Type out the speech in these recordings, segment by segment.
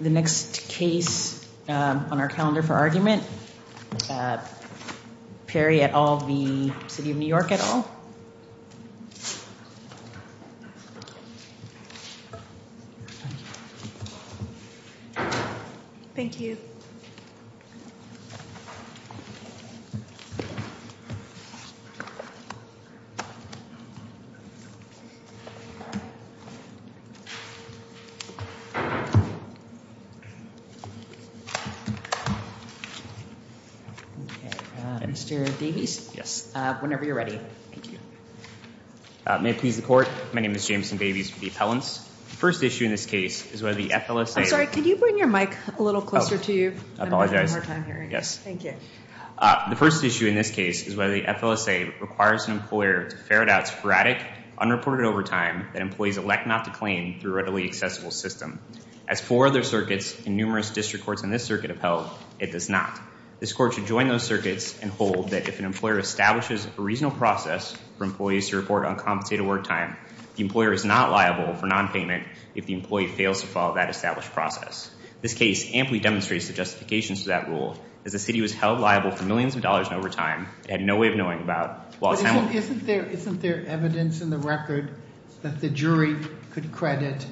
The next case on our calendar for argument. Perry et al. City of New York et al. The first issue in this case is whether the FLSA requires an employer to ferret out sporadic, unreported overtime that employees elect not to claim through a readily accessible system. As four other circuits and numerous district courts in this circuit have held, it does not. This court should join those circuits and hold that if an employer establishes a reasonable process for employees to report uncompensated work time, the employer is not liable for non-payment if the employee fails to follow that established process. This case amply demonstrates the justifications for that rule. As the city was held liable for millions of dollars in overtime, it had no way of knowing about- Isn't there evidence in the record that the jury could credit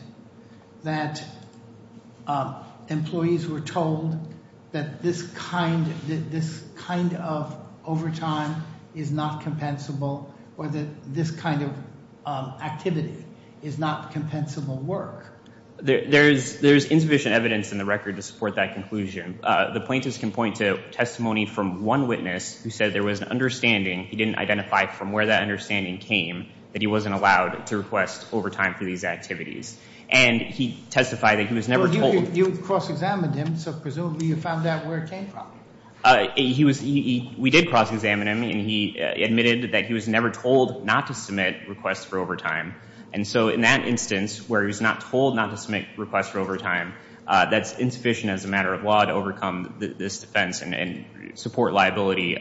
that employees were told that this kind of overtime is not compensable or that this kind of activity is not compensable work? There's insufficient evidence in the record to support that conclusion. The plaintiffs can point to testimony from one witness who said there was an understanding, he didn't identify from where that understanding came, that he wasn't allowed to request overtime for these activities. And he testified that he was never told- You cross-examined him, so presumably you found out where it came from. We did cross-examine him and he admitted that he was never told not to submit requests for overtime. And so in that instance, where he's not told not to submit requests for overtime, that's insufficient as a matter of law to overcome this defense and support liability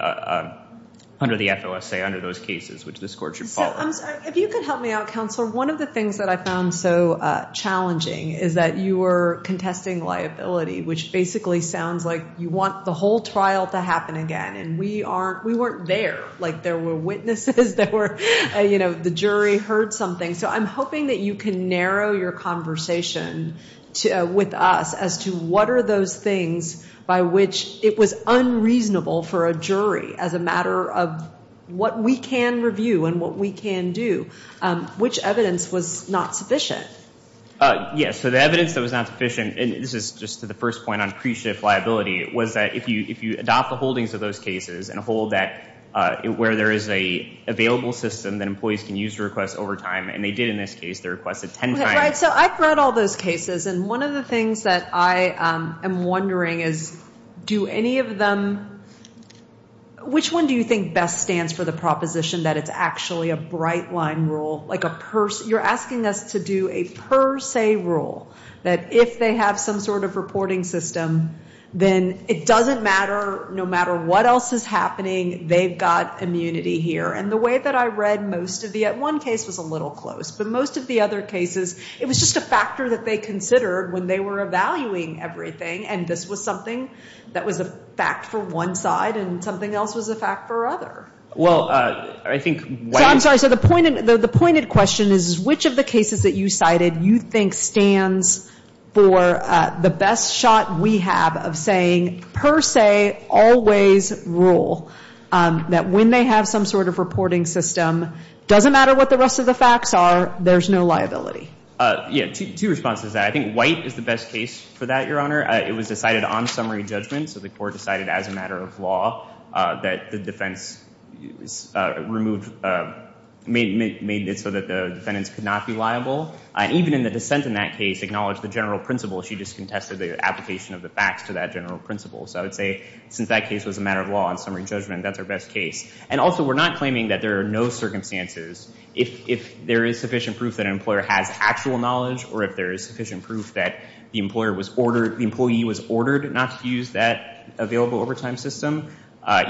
under the FOSA, under those cases, which this court should follow. If you could help me out, Counselor, one of the things that I found so challenging is that you were contesting liability, which basically sounds like you want the whole trial to happen again. And we weren't there. Like, there were witnesses that were, you know, the jury heard something. So I'm hoping that you can narrow your conversation with us as to what are those things by which it was unreasonable for a jury, as a matter of what we can review and what we can do, which evidence was not sufficient. Yes. So the evidence that was not sufficient, and this is just to the first point on pre-shift liability, was that if you adopt the holdings of those cases and hold that where there is an available system that employees can use to request overtime, and they did in this case. They requested 10 times. Right. So I've read all those cases. And one of the things that I am wondering is do any of them- Which one do you think best stands for the proposition that it's actually a bright-line rule? You're asking us to do a per se rule that if they have some sort of reporting system, then it doesn't matter, no matter what else is happening, they've got immunity here. And the way that I read most of the- one case was a little close. But most of the other cases, it was just a factor that they considered when they were evaluating everything. And this was something that was a fact for one side and something else was a fact for other. Well, I think- I'm sorry. So the pointed question is which of the cases that you cited you think stands for the best shot we have of saying per se, always rule, that when they have some sort of reporting system, doesn't matter what the rest of the facts are, there's no liability? Yeah. Two responses to that. I think White is the best case for that, Your Honor. It was decided on summary judgment, so the court decided as a matter of law that the defense removed- made it so that the defendants could not be liable. And even in the dissent in that case acknowledged the general principle. She just contested the application of the facts to that general principle. So I would say since that case was a matter of law on summary judgment, that's our best case. And also, we're not claiming that there are no circumstances. If there is sufficient proof that an employer has actual knowledge or if there is sufficient proof that the employer was ordered- the employee was ordered not to use that available overtime system,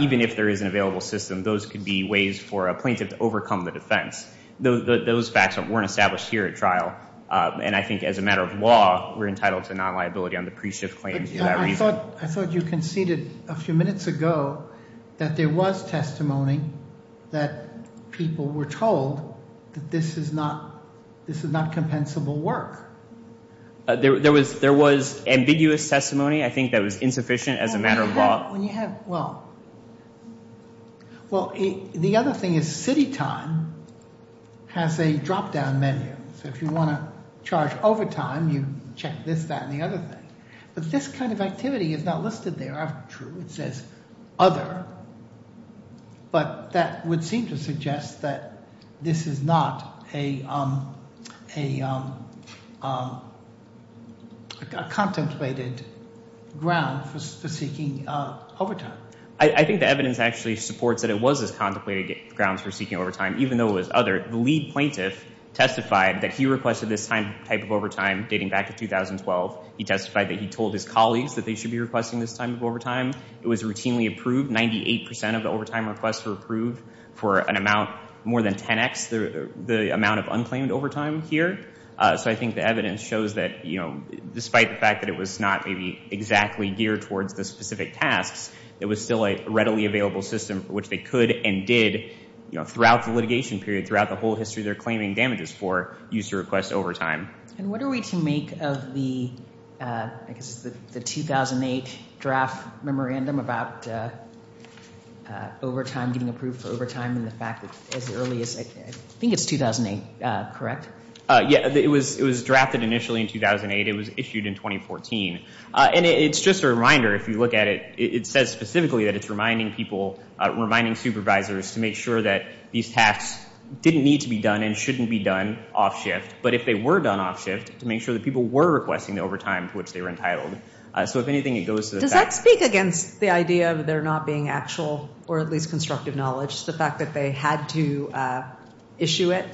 even if there is an available system, those could be ways for a plaintiff to overcome the defense. Those facts weren't established here at trial. And I think as a matter of law, we're entitled to non-liability on the pre-shift claims for that reason. I thought- I thought you conceded a few minutes ago that there was testimony that people were told that this is not- this is not compensable work. There was- there was ambiguous testimony. I think that was insufficient as a matter of law. Well, the other thing is city time has a drop-down menu. So if you want to charge overtime, you check this, that, and the other thing. But this kind of activity is not listed there after true. It says other. But that would seem to suggest that this is not a contemplated ground for seeking overtime. I think the evidence actually supports that it was a contemplated grounds for seeking overtime even though it was other. The lead plaintiff testified that he requested this type of overtime dating back to 2012. He testified that he told his colleagues that they should be requesting this type of overtime. It was routinely approved. Ninety-eight percent of the overtime requests were approved for an amount more than 10x the amount of unclaimed overtime here. So I think the evidence shows that, you know, despite the fact that it was not maybe exactly geared towards the specific tasks, it was still a readily available system for which they could and did, you know, throughout the litigation period, throughout the whole history they're claiming damages for, used to request overtime. And what are we to make of the, I guess, the 2008 draft memorandum about overtime getting approved for overtime and the fact that as early as, I think it's 2008, correct? Yeah, it was drafted initially in 2008. It was issued in 2014. And it's just a reminder if you look at it, it says specifically that it's reminding people, reminding supervisors to make sure that these tasks didn't need to be done and shouldn't be done off shift. But if they were done off shift, to make sure that people were requesting the overtime to which they were entitled. So if anything, it goes to the facts. Does that speak against the idea of there not being actual or at least constructive knowledge, just the fact that they had to issue it?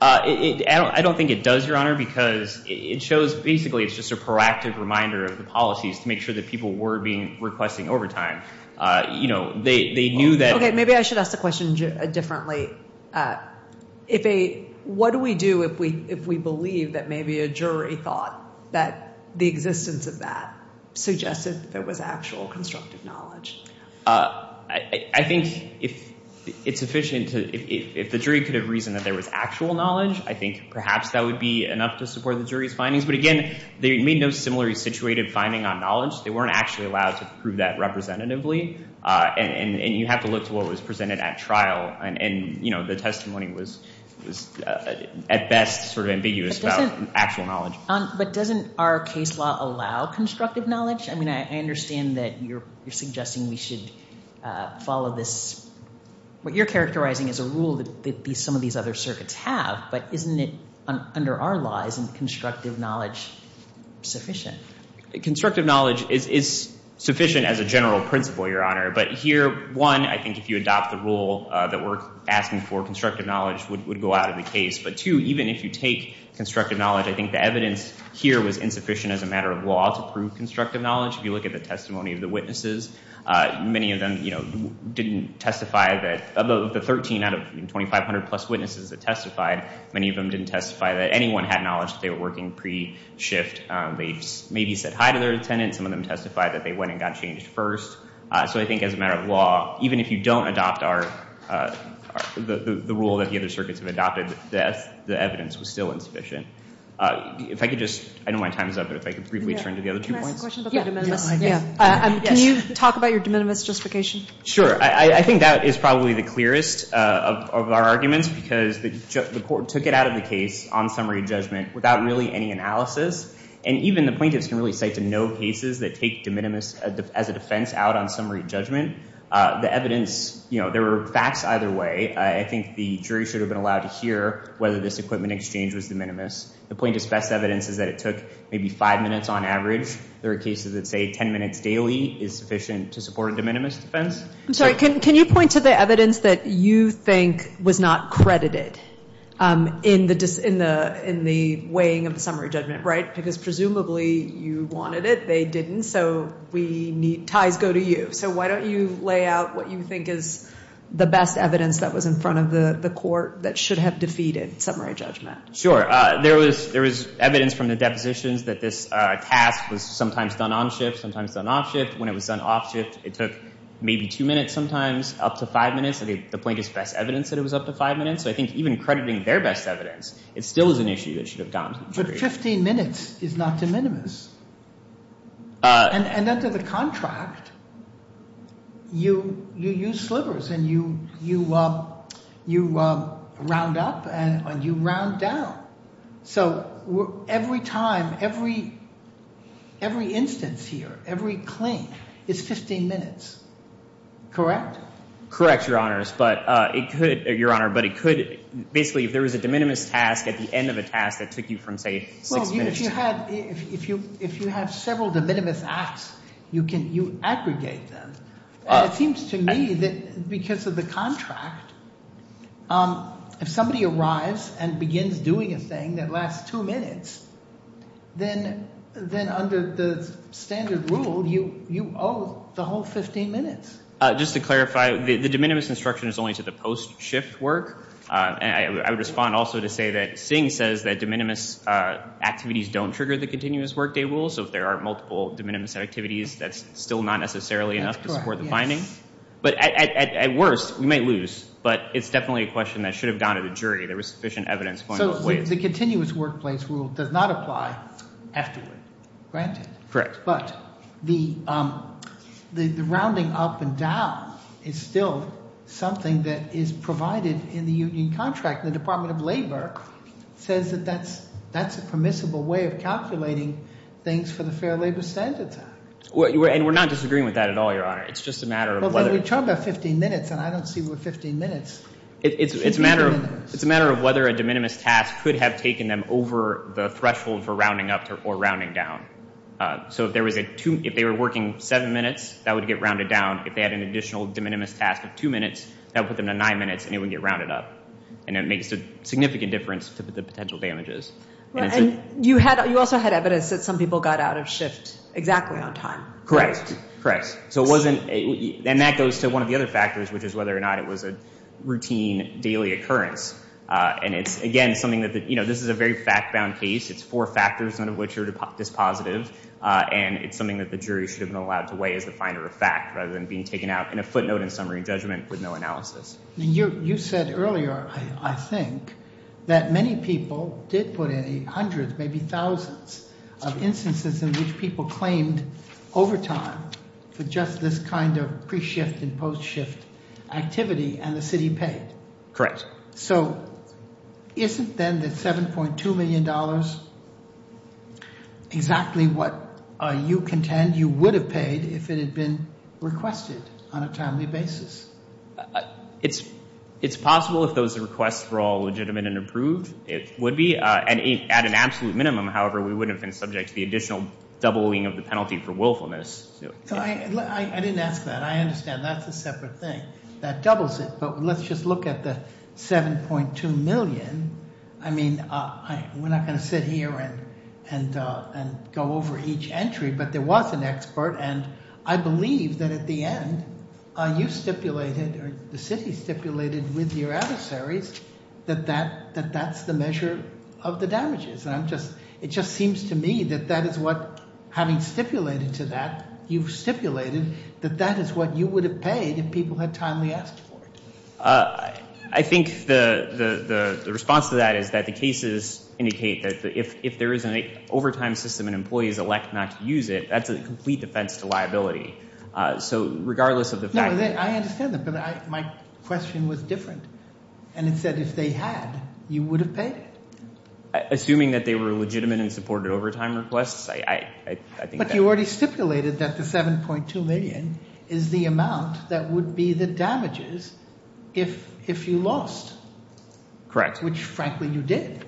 I don't think it does, Your Honor, because it shows basically it's just a proactive reminder of the policies to make sure that people were requesting overtime. You know, they knew that. Okay, maybe I should ask the question differently. What do we do if we believe that maybe a jury thought that the existence of that suggested that there was actual constructive knowledge? I think if it's sufficient, if the jury could have reasoned that there was actual knowledge, I think perhaps that would be enough to support the jury's findings. But again, they made no similarly situated finding on knowledge. They weren't actually allowed to prove that representatively. And you have to look to what was presented at trial. And, you know, the testimony was at best sort of ambiguous about actual knowledge. But doesn't our case law allow constructive knowledge? I mean, I understand that you're suggesting we should follow this. What you're characterizing is a rule that some of these other circuits have, but isn't it under our law, isn't constructive knowledge sufficient? Constructive knowledge is sufficient as a general principle, Your Honor. But here, one, I think if you adopt the rule that we're asking for, constructive knowledge would go out of the case. But two, even if you take constructive knowledge, I think the evidence here was insufficient as a matter of law to prove constructive knowledge. If you look at the testimony of the witnesses, many of them, you know, didn't testify that, of the 13 out of 2,500 plus witnesses that testified, many of them didn't testify that anyone had knowledge that they were working pre-shift. They maybe said hi to their attendant. Some of them testified that they went and got changed first. So I think as a matter of law, even if you don't adopt the rule that the other circuits have adopted, the evidence was still insufficient. If I could just, I know my time is up, but if I could briefly turn to the other two points. Can I ask a question about the de minimis? Can you talk about your de minimis justification? Sure. I think that is probably the clearest of our arguments because the court took it out of the case on summary judgment without really any analysis. And even the plaintiffs can really cite to no cases that take de minimis as a defense out on summary judgment. The evidence, you know, there were facts either way. I think the jury should have been allowed to hear whether this equipment exchange was de minimis. The plaintiff's best evidence is that it took maybe five minutes on average. There are cases that say 10 minutes daily is sufficient to support a de minimis defense. I'm sorry. Can you point to the evidence that you think was not credited in the weighing of the summary judgment, right? Because presumably you wanted it, they didn't, so ties go to you. So why don't you lay out what you think is the best evidence that was in front of the court that should have defeated summary judgment? Sure. There was evidence from the depositions that this task was sometimes done on shift, sometimes done off shift. When it was done off shift, it took maybe two minutes sometimes, up to five minutes. The plaintiff's best evidence said it was up to five minutes. So I think even crediting their best evidence, it still is an issue that should have gone to the jury. But 15 minutes is not de minimis. And under the contract, you use slivers and you round up and you round down. So every time, every instance here, every claim is 15 minutes, correct? Correct, Your Honors. But it could, Your Honor, but it could, basically if there was a de minimis task at the end of a task that took you from say six minutes. Well, if you have several de minimis acts, you aggregate them. It seems to me that because of the contract, if somebody arrives and begins doing a thing that lasts two minutes, then under the standard rule, you owe the whole 15 minutes. Just to clarify, the de minimis instruction is only to the post-shift work. And I would respond also to say that Singh says that de minimis activities don't trigger the continuous workday rule. So if there are multiple de minimis activities, that's still not necessarily enough to support the finding. That's correct, yes. But at worst, we might lose. But it's definitely a question that should have gone to the jury. There was sufficient evidence going both ways. So the continuous workplace rule does not apply afterward, granted. Correct. But the rounding up and down is still something that is provided in the union contract. The Department of Labor says that that's a permissible way of calculating things for the Fair Labor Standards Act. And we're not disagreeing with that at all, Your Honor. It's just a matter of whether— Well, then we talked about 15 minutes, and I don't see where 15 minutes— It's a matter of whether a de minimis task could have taken them over the threshold for rounding up or rounding down. So if they were working seven minutes, that would get rounded down. If they had an additional de minimis task of two minutes, that would put them to nine minutes, and it would get rounded up. And it makes a significant difference to the potential damages. And you also had evidence that some people got out of shift exactly on time. Correct, correct. So it wasn't—and that goes to one of the other factors, which is whether or not it was a routine daily occurrence. And it's, again, something that—you know, this is a very fact-bound case. It's four factors, none of which are dispositive. And it's something that the jury should have been allowed to weigh as the finder of fact, rather than being taken out in a footnote and summary judgment with no analysis. And you said earlier, I think, that many people did put in hundreds, maybe thousands, of instances in which people claimed overtime for just this kind of pre-shift and post-shift activity, and the city paid. Correct. So isn't then that $7.2 million exactly what you contend you would have paid if it had been requested on a timely basis? It's possible if those requests were all legitimate and approved, it would be. And at an absolute minimum, however, we wouldn't have been subject to the additional doubling of the penalty for willfulness. I didn't ask that. I understand. That's a separate thing. That doubles it. But let's just look at the $7.2 million. I mean, we're not going to sit here and go over each entry. But there was an expert, and I believe that at the end, you stipulated, or the city stipulated with your adversaries, that that's the measure of the damages. And it just seems to me that that is what, having stipulated to that, you've stipulated that that is what you would have paid if people had timely asked for it. I think the response to that is that the cases indicate that if there is an overtime system and employees elect not to use it, that's a complete defense to liability. So regardless of the fact that... No, I understand that. But my question was different. And it said if they had, you would have paid it. Assuming that they were legitimate and supported overtime requests, I think that... If you lost. Correct. Which, frankly, you did.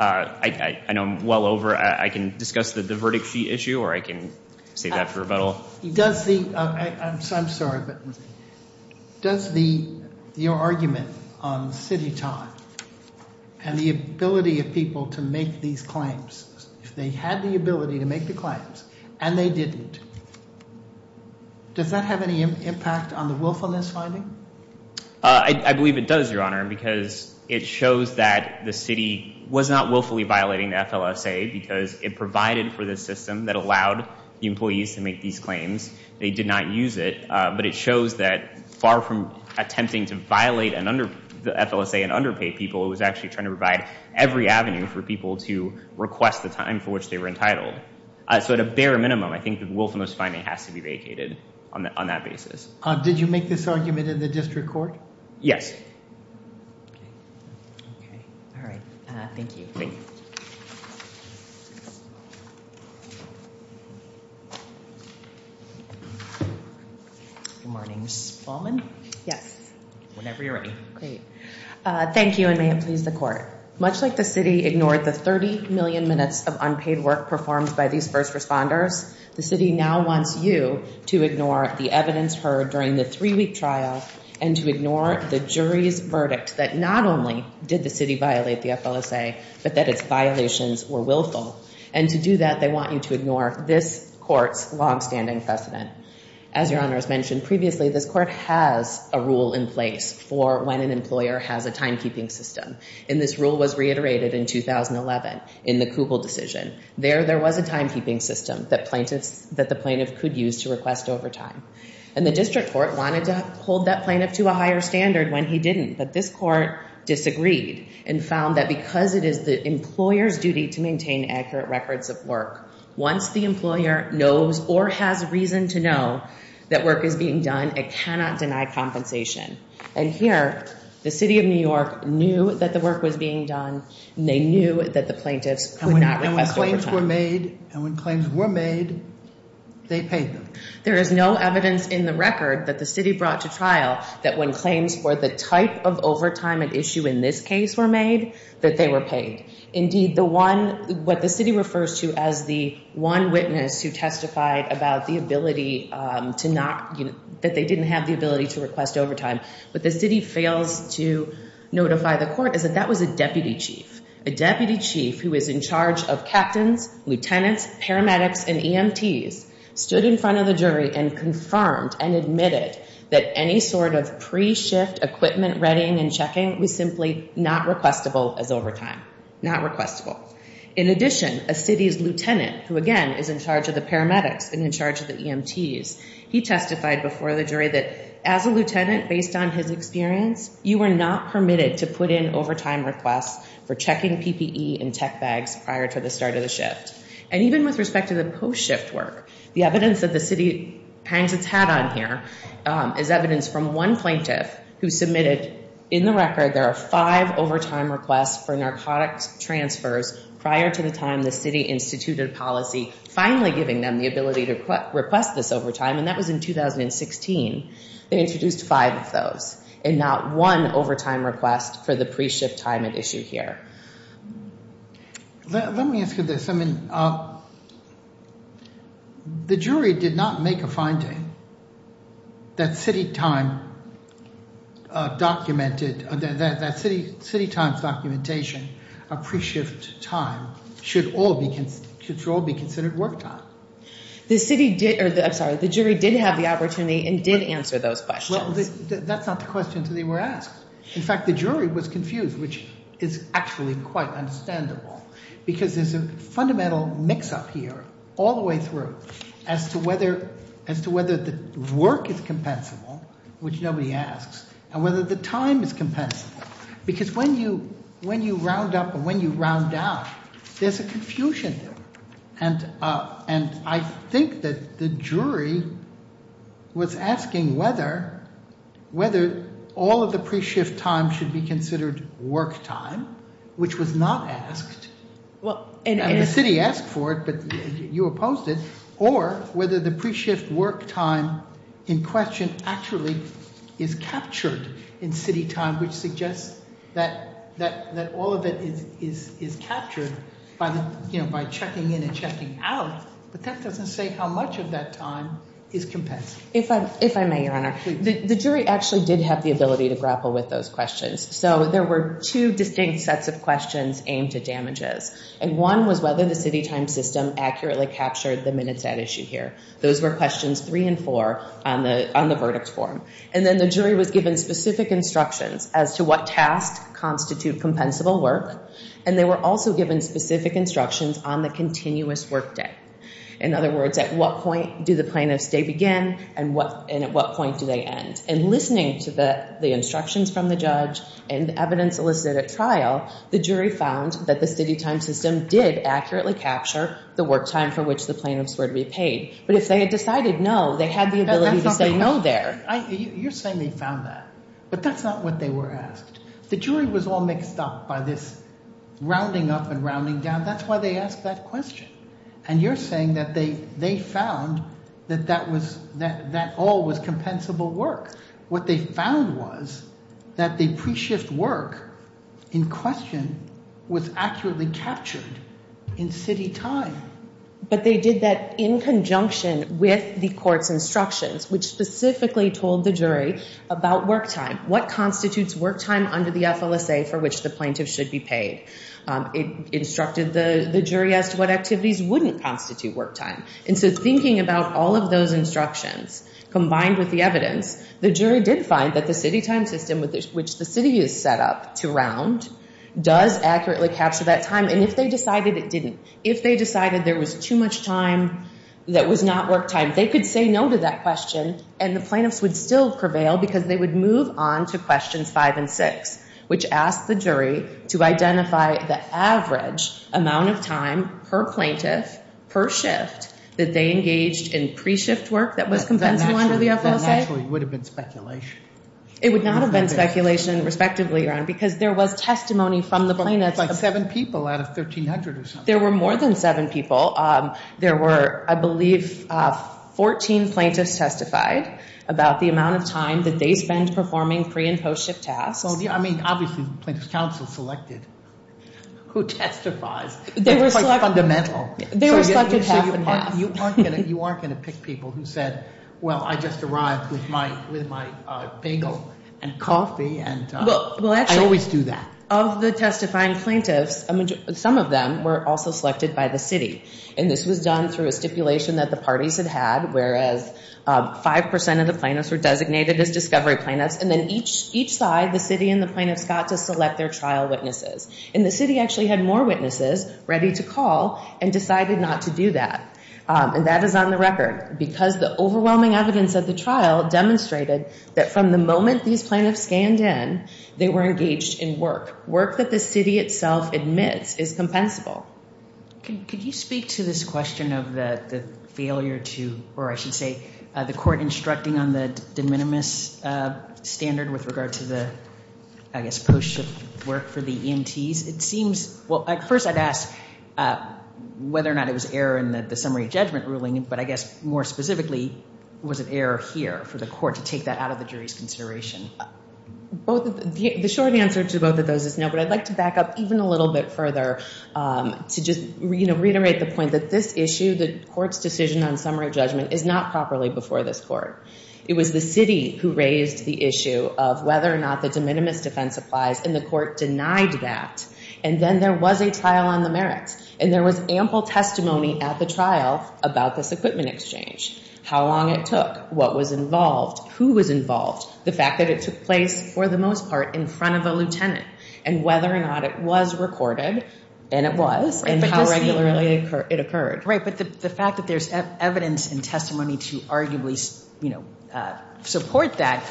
I know I'm well over. I can discuss the verdict sheet issue, or I can save that for rebuttal. Does the... I'm sorry, but does the argument on city time and the ability of people to make these claims, if they had the ability to make the claims and they didn't, does that have any impact on the willfulness finding? I believe it does, Your Honor, because it shows that the city was not willfully violating the FLSA because it provided for the system that allowed the employees to make these claims. They did not use it. But it shows that far from attempting to violate the FLSA and underpay people, it was actually trying to provide every avenue for people to request the time for which they were entitled. So at a bare minimum, I think the willfulness finding has to be vacated on that basis. Did you make this argument in the district court? Yes. All right. Thank you. Thank you. Good morning, Ms. Baumann. Yes. Whenever you're ready. Great. Thank you, and may it please the court. Much like the city ignored the 30 million minutes of unpaid work performed by these first responders, the city now wants you to ignore the evidence heard during the three-week trial and to ignore the jury's verdict that not only did the city violate the FLSA, but that its violations were willful. And to do that, they want you to ignore this court's longstanding precedent. As Your Honors mentioned previously, this court has a rule in place for when an employer has a timekeeping system. And this rule was reiterated in 2011 in the Kugel decision. There, there was a timekeeping system that the plaintiff could use to request overtime. And the district court wanted to hold that plaintiff to a higher standard when he didn't. But this court disagreed and found that because it is the employer's duty to maintain accurate records of work, once the employer knows or has reason to know that work is being done, it cannot deny compensation. And here, the city of New York knew that the work was being done, and they knew that the plaintiffs could not request overtime. And when claims were made, they paid them. There is no evidence in the record that the city brought to trial that when claims for the type of overtime at issue in this case were made, that they were paid. Indeed, the one, what the city refers to as the one witness who testified about the ability to not, that they didn't have the ability to request overtime, but the city fails to notify the court is that that was a deputy chief. A deputy chief who is in charge of captains, lieutenants, paramedics, and EMTs, stood in front of the jury and confirmed and admitted that any sort of pre-shift equipment readying and checking was simply not requestable as overtime. Not requestable. In addition, a city's lieutenant, who again is in charge of the paramedics and in charge of the EMTs, he testified before the jury that as a lieutenant, based on his experience, you are not permitted to put in overtime requests for checking PPE and tech bags prior to the start of the shift. And even with respect to the post-shift work, the evidence that the city hangs its hat on here is evidence from one plaintiff who submitted, in the record, there are five overtime requests for narcotics transfers prior to the time the city instituted policy, finally giving them the ability to request this overtime, and that was in 2016. They introduced five of those, and not one overtime request for the pre-shift time at issue here. Let me ask you this. I mean, the jury did not make a finding that city time documented, that city time's documentation of pre-shift time should all be considered work time. I'm sorry. The jury did have the opportunity and did answer those questions. Well, that's not the question they were asked. In fact, the jury was confused, which is actually quite understandable, because there's a fundamental mix-up here all the way through as to whether the work is compensable, which nobody asks, and whether the time is compensable. Because when you round up and when you round down, there's a confusion there. And I think that the jury was asking whether all of the pre-shift time should be considered work time, which was not asked, and the city asked for it, but you opposed it, or whether the pre-shift work time in question actually is captured in city time, which suggests that all of it is captured by checking in and checking out. But that doesn't say how much of that time is compensable. If I may, Your Honor, the jury actually did have the ability to grapple with those questions. So there were two distinct sets of questions aimed at damages, and one was whether the city time system accurately captured the minutes at issue here. Those were questions three and four on the verdict form. And then the jury was given specific instructions as to what tasks constitute compensable work, and they were also given specific instructions on the continuous work day. In other words, at what point do the plaintiffs' day begin, and at what point do they end? And listening to the instructions from the judge and evidence elicited at trial, the jury found that the city time system did accurately capture the work time for which the plaintiffs were to be paid. But if they had decided no, they had the ability to say no there. You're saying they found that, but that's not what they were asked. The jury was all mixed up by this rounding up and rounding down. That's why they asked that question. And you're saying that they found that that all was compensable work. What they found was that the pre-shift work in question was accurately captured in city time. But they did that in conjunction with the court's instructions, which specifically told the jury about work time, what constitutes work time under the FLSA for which the plaintiff should be paid. It instructed the jury as to what activities wouldn't constitute work time. And so thinking about all of those instructions combined with the evidence, the jury did find that the city time system, which the city has set up to round, does accurately capture that time. And if they decided it didn't, if they decided there was too much time that was not work time, they could say no to that question and the plaintiffs would still prevail because they would move on to questions five and six, which asked the jury to identify the average amount of time per plaintiff, per shift, that they engaged in pre-shift work that was compensable under the FLSA. That naturally would have been speculation. It would not have been speculation, respectively, Your Honor, because there was testimony from the plaintiffs. Like seven people out of 1,300 or something. There were more than seven people. There were, I believe, 14 plaintiffs testified about the amount of time that they spent performing pre- and post-shift tasks. I mean, obviously the plaintiffs' counsel selected who testifies. They were quite fundamental. They were selected half and half. You aren't going to pick people who said, well, I just arrived with my bagel and coffee. I always do that. Of the testifying plaintiffs, some of them were also selected by the city. And this was done through a stipulation that the parties had had, whereas 5% of the plaintiffs were designated as discovery plaintiffs, and then each side, the city and the plaintiffs, got to select their trial witnesses. And the city actually had more witnesses ready to call and decided not to do that. And that is on the record because the overwhelming evidence at the trial demonstrated that from the moment these plaintiffs scanned in, they were engaged in work, work that the city itself admits is compensable. Could you speak to this question of the failure to, or I should say, the court instructing on the de minimis standard with regard to the, I guess, post-shift work for the EMTs? It seems, well, at first I'd ask whether or not it was error in the summary judgment ruling, but I guess more specifically, was it error here for the court to take that out of the jury's consideration? The short answer to both of those is no, but I'd like to back up even a little bit further to just reiterate the point that this issue, the court's decision on summary judgment, is not properly before this court. It was the city who raised the issue of whether or not the de minimis defense applies, and the court denied that. And then there was a trial on the merits, and there was ample testimony at the trial about this equipment exchange, how long it took, what was involved, who was involved, the fact that it took place, for the most part, in front of a lieutenant, and whether or not it was recorded, and it was, and how regularly it occurred. Right, but the fact that there's evidence and testimony to arguably support that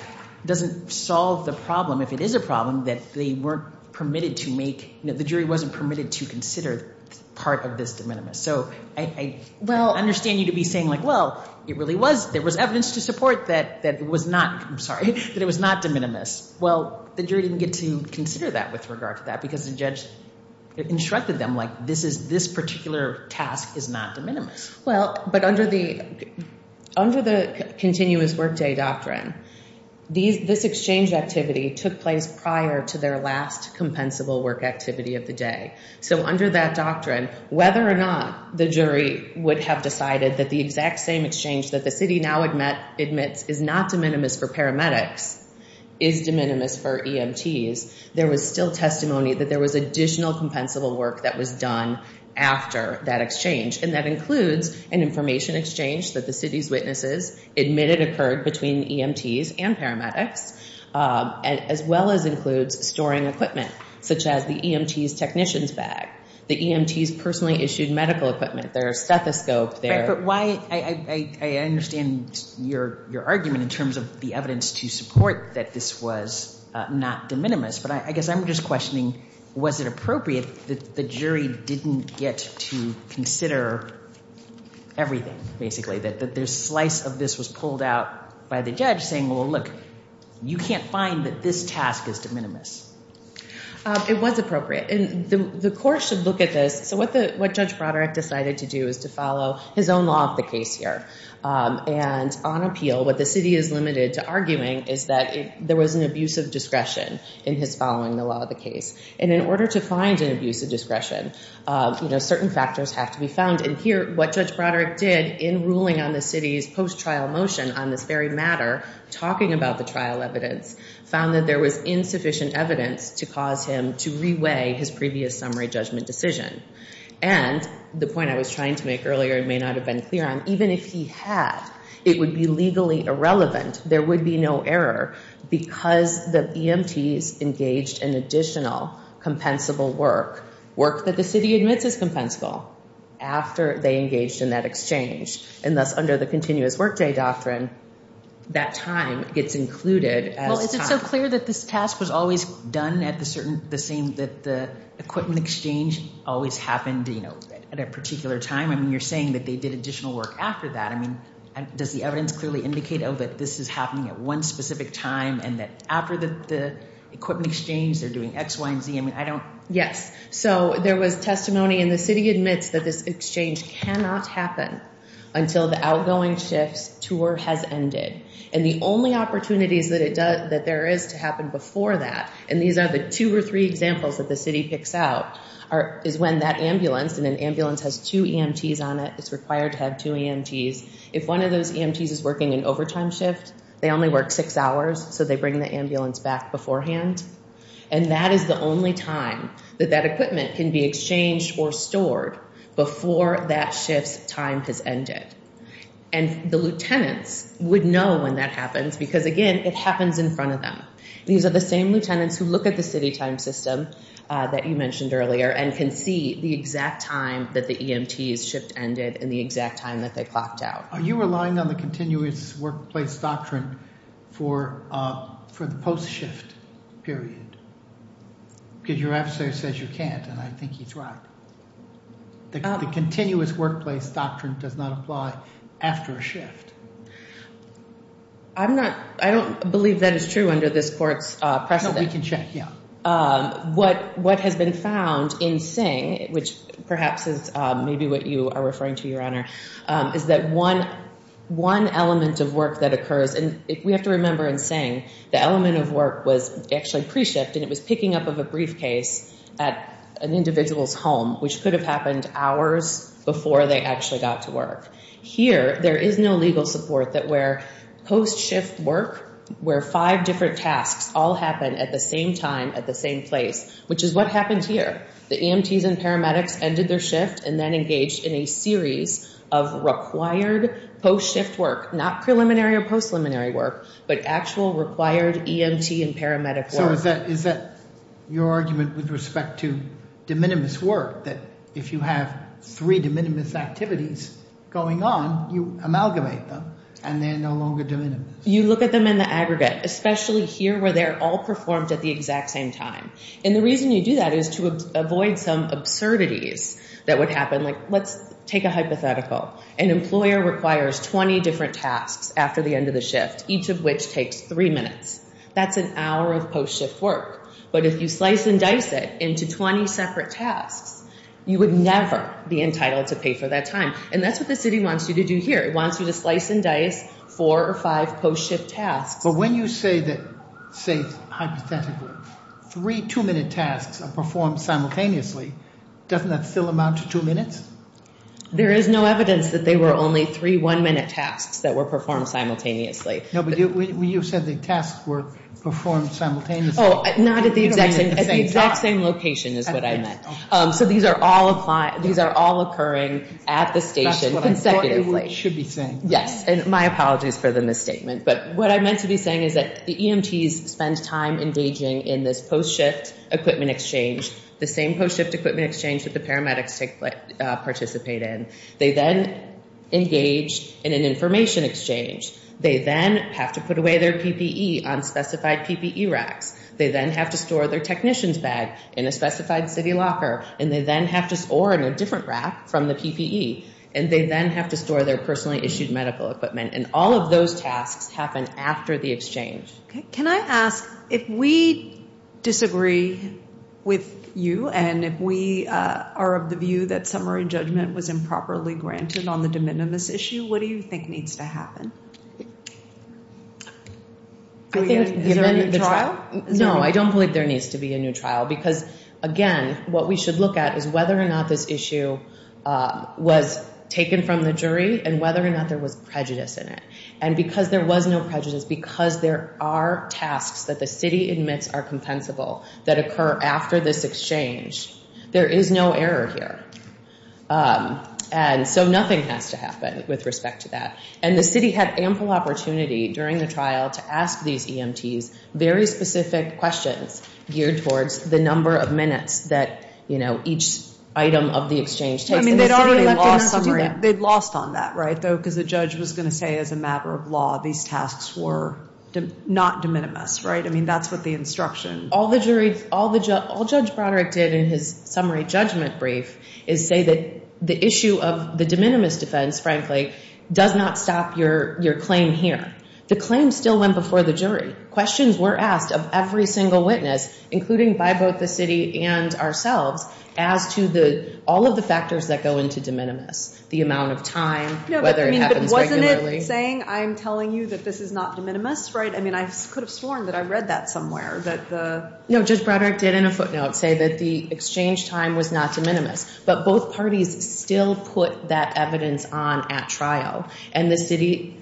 doesn't solve the problem, if it is a problem, that they weren't permitted to make, the jury wasn't permitted to consider part of this de minimis. So I understand you to be saying, like, well, it really was, there was evidence to support that it was not, I'm sorry, that it was not de minimis. Well, the jury didn't get to consider that with regard to that, because the judge instructed them, like, this particular task is not de minimis. Well, but under the continuous workday doctrine, this exchange activity took place prior to their last compensable work activity of the day. So under that doctrine, whether or not the jury would have decided that the exact same exchange that the city now admits is not de minimis for paramedics is de minimis for EMTs, there was still testimony that there was additional compensable work that was done after that exchange, and that includes an information exchange that the city's witnesses admitted occurred between EMTs and paramedics, as well as includes storing equipment, such as the EMT's technician's bag, the EMT's personally issued medical equipment, their stethoscope. But why, I understand your argument in terms of the evidence to support that this was not de minimis, but I guess I'm just questioning, was it appropriate that the jury didn't get to consider everything, basically, that this slice of this was pulled out by the judge, saying, well, look, you can't find that this task is de minimis? It was appropriate, and the court should look at this. So what Judge Broderick decided to do is to follow his own law of the case here. And on appeal, what the city is limited to arguing is that there was an abuse of discretion in his following the law of the case. And in order to find an abuse of discretion, certain factors have to be found. And here, what Judge Broderick did in ruling on the city's post-trial motion on this very matter, talking about the trial evidence, found that there was insufficient evidence to cause him to reweigh his previous summary judgment decision. And the point I was trying to make earlier, it may not have been clear on, even if he had, it would be legally irrelevant. There would be no error because the EMTs engaged in additional compensable work, work that the city admits is compensable, after they engaged in that exchange. And thus, under the continuous workday doctrine, that time gets included as time. Well, is it so clear that this task was always done at the same, that the equipment exchange always happened at a particular time? I mean, you're saying that they did additional work after that. I mean, does the evidence clearly indicate, oh, that this is happening at one specific time, and that after the equipment exchange, they're doing X, Y, and Z? I mean, I don't. Yes. So there was testimony, and the city admits that this exchange cannot happen until the outgoing shift's tour has ended. And the only opportunities that there is to happen before that, and these are the two or three examples that the city picks out, is when that ambulance, and an ambulance has two EMTs on it, it's required to have two EMTs. If one of those EMTs is working an overtime shift, they only work six hours, so they bring the ambulance back beforehand. And that is the only time that that equipment can be exchanged or stored before that shift's time has ended. And the lieutenants would know when that happens because, again, it happens in front of them. These are the same lieutenants who look at the city time system that you mentioned earlier and can see the exact time that the EMTs shift ended and the exact time that they clocked out. Are you relying on the continuous workplace doctrine for the post-shift period? Because your adversary says you can't, and I think he's right. The continuous workplace doctrine does not apply after a shift. I don't believe that is true under this court's precedent. No, we can check, yeah. What has been found in Singh, which perhaps is maybe what you are referring to, Your Honor, is that one element of work that occurs, and we have to remember in Singh, the element of work was actually pre-shift, and it was picking up of a briefcase at an individual's home, which could have happened hours before they actually got to work. Here, there is no legal support that where post-shift work, where five different tasks all happen at the same time at the same place, which is what happened here. The EMTs and paramedics ended their shift and then engaged in a series of required post-shift work, not preliminary or post-preliminary work, but actual required EMT and paramedic work. So is that your argument with respect to de minimis work, that if you have three de minimis activities going on, you amalgamate them and they are no longer de minimis? You look at them in the aggregate, especially here where they are all performed at the exact same time. And the reason you do that is to avoid some absurdities that would happen, like let's take a hypothetical. An employer requires 20 different tasks after the end of the shift, each of which takes three minutes. That's an hour of post-shift work. But if you slice and dice it into 20 separate tasks, you would never be entitled to pay for that time. And that's what the city wants you to do here. It wants you to slice and dice four or five post-shift tasks. But when you say that, say hypothetically, three two-minute tasks are performed simultaneously, doesn't that still amount to two minutes? There is no evidence that they were only three one-minute tasks that were performed simultaneously. No, but you said the tasks were performed simultaneously. Oh, not at the exact same location is what I meant. So these are all occurring at the station consecutively. That's what I thought it should be saying. Yes, and my apologies for the misstatement. But what I meant to be saying is that the EMTs spend time engaging in this post-shift equipment exchange, the same post-shift equipment exchange that the paramedics participate in. They then engage in an information exchange. They then have to put away their PPE on specified PPE racks. They then have to store their technician's bag in a specified city locker, or in a different rack from the PPE. And they then have to store their personally issued medical equipment. And all of those tasks happen after the exchange. Can I ask, if we disagree with you, and if we are of the view that summary judgment was improperly granted on the de minimis issue, what do you think needs to happen? Is there a new trial? No, I don't believe there needs to be a new trial. Because, again, what we should look at is whether or not this issue was taken from the jury and whether or not there was prejudice in it. And because there was no prejudice, because there are tasks that the city admits are compensable that occur after this exchange, there is no error here. And so nothing has to happen with respect to that. And the city had ample opportunity during the trial to ask these EMTs very specific questions geared towards the number of minutes that each item of the exchange takes. I mean, they'd already left in their summary. They'd lost on that, right? Because the judge was going to say, as a matter of law, these tasks were not de minimis, right? I mean, that's what the instruction. All Judge Broderick did in his summary judgment brief is say that the issue of the de minimis defense, frankly, does not stop your claim here. The claim still went before the jury. Questions were asked of every single witness, including by both the city and ourselves, as to all of the factors that go into de minimis, the amount of time, whether it happens regularly. But wasn't it saying, I'm telling you that this is not de minimis, right? I mean, I could have sworn that I read that somewhere, that the- No, Judge Broderick did in a footnote say that the exchange time was not de minimis. But both parties still put that evidence on at trial. And the city-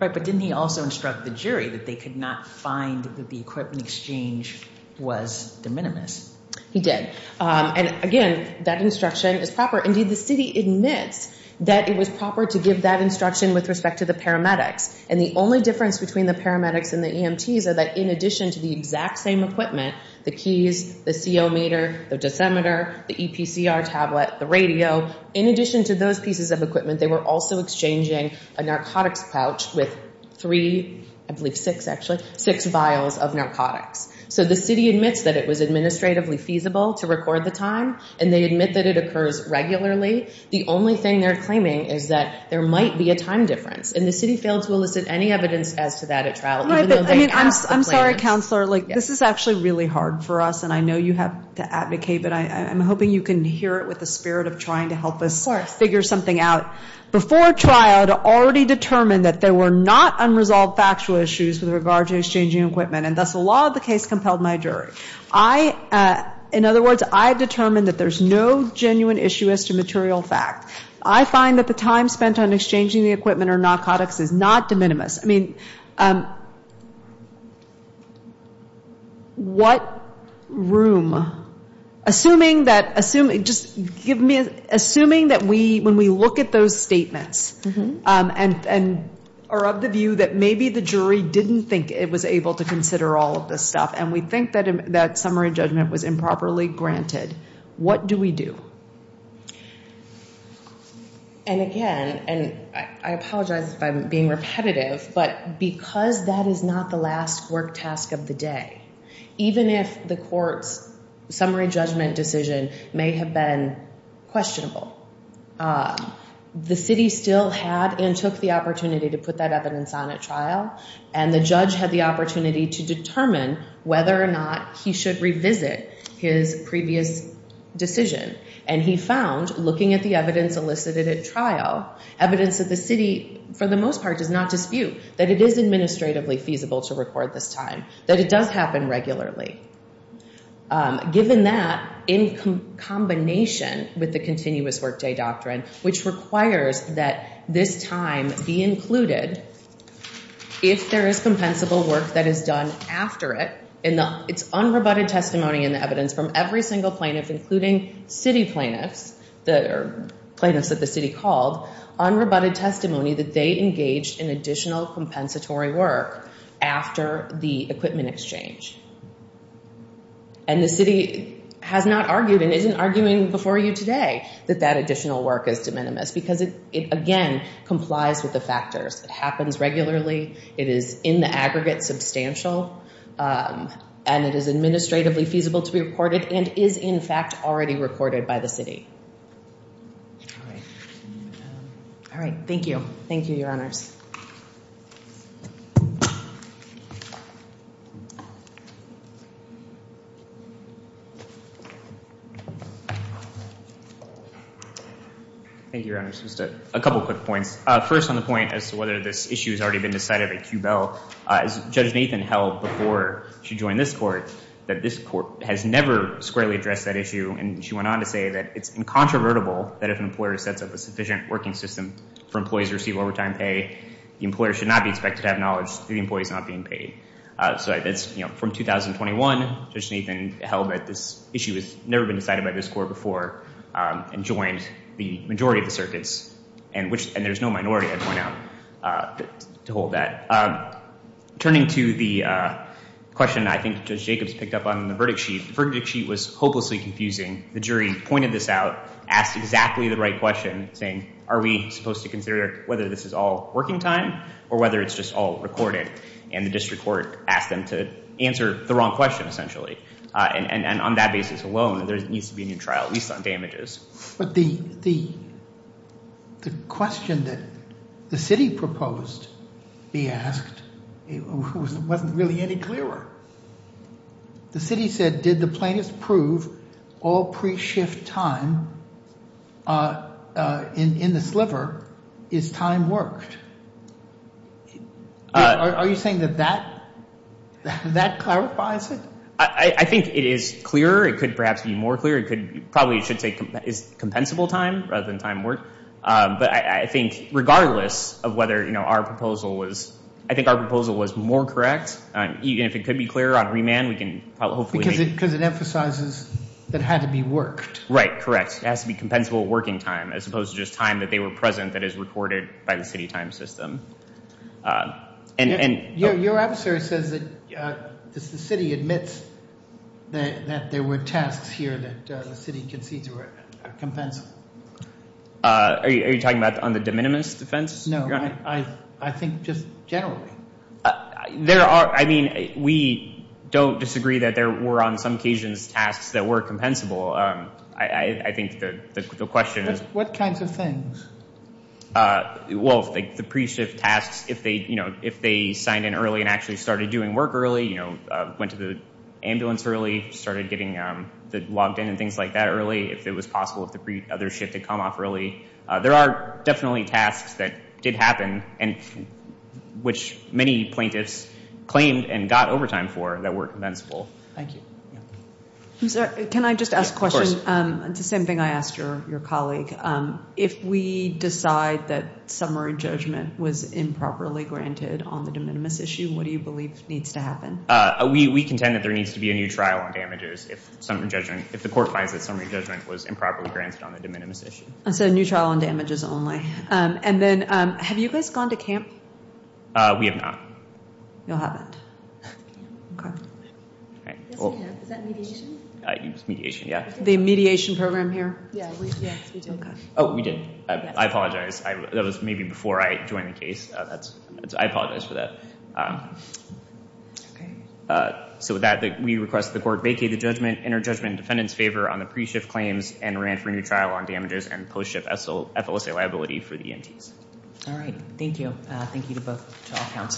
Right, but didn't he also instruct the jury that they could not find that the equipment exchange was de minimis? He did. And again, that instruction is proper. Indeed, the city admits that it was proper to give that instruction with respect to the paramedics. And the only difference between the paramedics and the EMTs are that in addition to the exact same equipment, the keys, the CO meter, the dosimeter, the EPCR tablet, the radio, in addition to those pieces of equipment, they were also exchanging a narcotics pouch with three, I believe six, actually, six vials of narcotics. So the city admits that it was administratively feasible to record the time, and they admit that it occurs regularly. The only thing they're claiming is that there might be a time difference. And the city failed to elicit any evidence as to that at trial. I'm sorry, Counselor. This is actually really hard for us, and I know you have to advocate, but I'm hoping you can hear it with the spirit of trying to help us figure something out. Before trial, it already determined that there were not unresolved factual issues with regard to exchanging equipment, and thus the law of the case compelled my jury. In other words, I determined that there's no genuine issue as to material fact. I find that the time spent on exchanging the equipment or narcotics is not de minimis. I mean, what room? Assuming that we, when we look at those statements, and are of the view that maybe the jury didn't think it was able to consider all of this stuff, and we think that summary judgment was improperly granted, what do we do? And again, and I apologize if I'm being repetitive, but because that is not the last work task of the day, even if the court's summary judgment decision may have been questionable, the city still had and took the opportunity to put that evidence on at trial, and the judge had the opportunity to determine whether or not he should revisit his previous decision. And he found, looking at the evidence elicited at trial, evidence that the city, for the most part, does not dispute, that it is administratively feasible to record this time, that it does happen regularly. Given that, in combination with the continuous workday doctrine, which requires that this time be included if there is compensable work that is done after it, it's unrebutted testimony in the evidence from every single plaintiff, including city plaintiffs, or plaintiffs that the city called, unrebutted testimony that they engaged in additional compensatory work after the equipment exchange. And the city has not argued and isn't arguing before you today that that additional work is de minimis, because it, again, complies with the factors. It happens regularly. It is in the aggregate substantial, and it is administratively feasible to be recorded and is, in fact, already recorded by the city. All right. Thank you. Thank you, Your Honors. Thank you, Your Honors. Just a couple quick points. First, on the point as to whether this issue has already been decided by QBEL, as Judge Nathan held before she joined this court, that this court has never squarely addressed that issue. And she went on to say that it's incontrovertible that if an employer sets up a sufficient working system for employees to receive overtime pay, the employer should not be expected to have knowledge that the employee is not being paid. From 2021, Judge Nathan held that this issue has never been decided by this court before and joined the majority of the circuits, and there's no minority, I'd point out, to hold that. Turning to the question I think Judge Jacobs picked up on the verdict sheet, the verdict sheet was hopelessly confusing. The jury pointed this out, asked exactly the right question, saying, are we supposed to consider whether this is all working time or whether it's just all recorded? And the district court asked them to answer the wrong question, essentially. And on that basis alone, there needs to be a new trial, at least on damages. But the question that the city proposed be asked wasn't really any clearer. The city said, did the plaintiffs prove all pre-shift time in the sliver is time worked? Are you saying that that clarifies it? I think it is clearer. It could perhaps be more clear. It probably should say it's compensable time rather than time worked. But I think regardless of whether our proposal was more correct, even if it could be clearer on remand, we can hopefully... Because it emphasizes that it had to be worked. Right, correct. It has to be compensable working time, as opposed to just time that they were present that is recorded by the city time system. Your answer says that the city admits that there were tasks here that the city concedes were compensable. Are you talking about on the de minimis defense? No, I think just generally. I mean, we don't disagree that there were on some occasions tasks that were compensable. I think the question is... What kinds of things? Well, the pre-shift tasks, if they signed in early and actually started doing work early, went to the ambulance early, started getting logged in and things like that early, if it was possible if the other shift had come off early. There are definitely tasks that did happen, which many plaintiffs claimed and got overtime for that were compensable. Thank you. Can I just ask a question? Of course. It's the same thing I asked your colleague. If we decide that summary judgment was improperly granted on the de minimis issue, what do you believe needs to happen? We contend that there needs to be a new trial on damages if the court finds that summary judgment was improperly granted on the de minimis issue. So a new trial on damages only. And then have you guys gone to camp? We have not. You haven't. Okay. Is that mediation? Mediation, yeah. The mediation program here? Yes, we did. Oh, we did. I apologize. That was maybe before I joined the case. I apologize for that. Okay. So with that, we request the court vacate the judgment, enter judgment in defendant's favor on the pre-shift claims and remand for a new trial on damages and post-shift FLSA liability for the EMTs. All right. Thank you. Thank you to both trial counsel.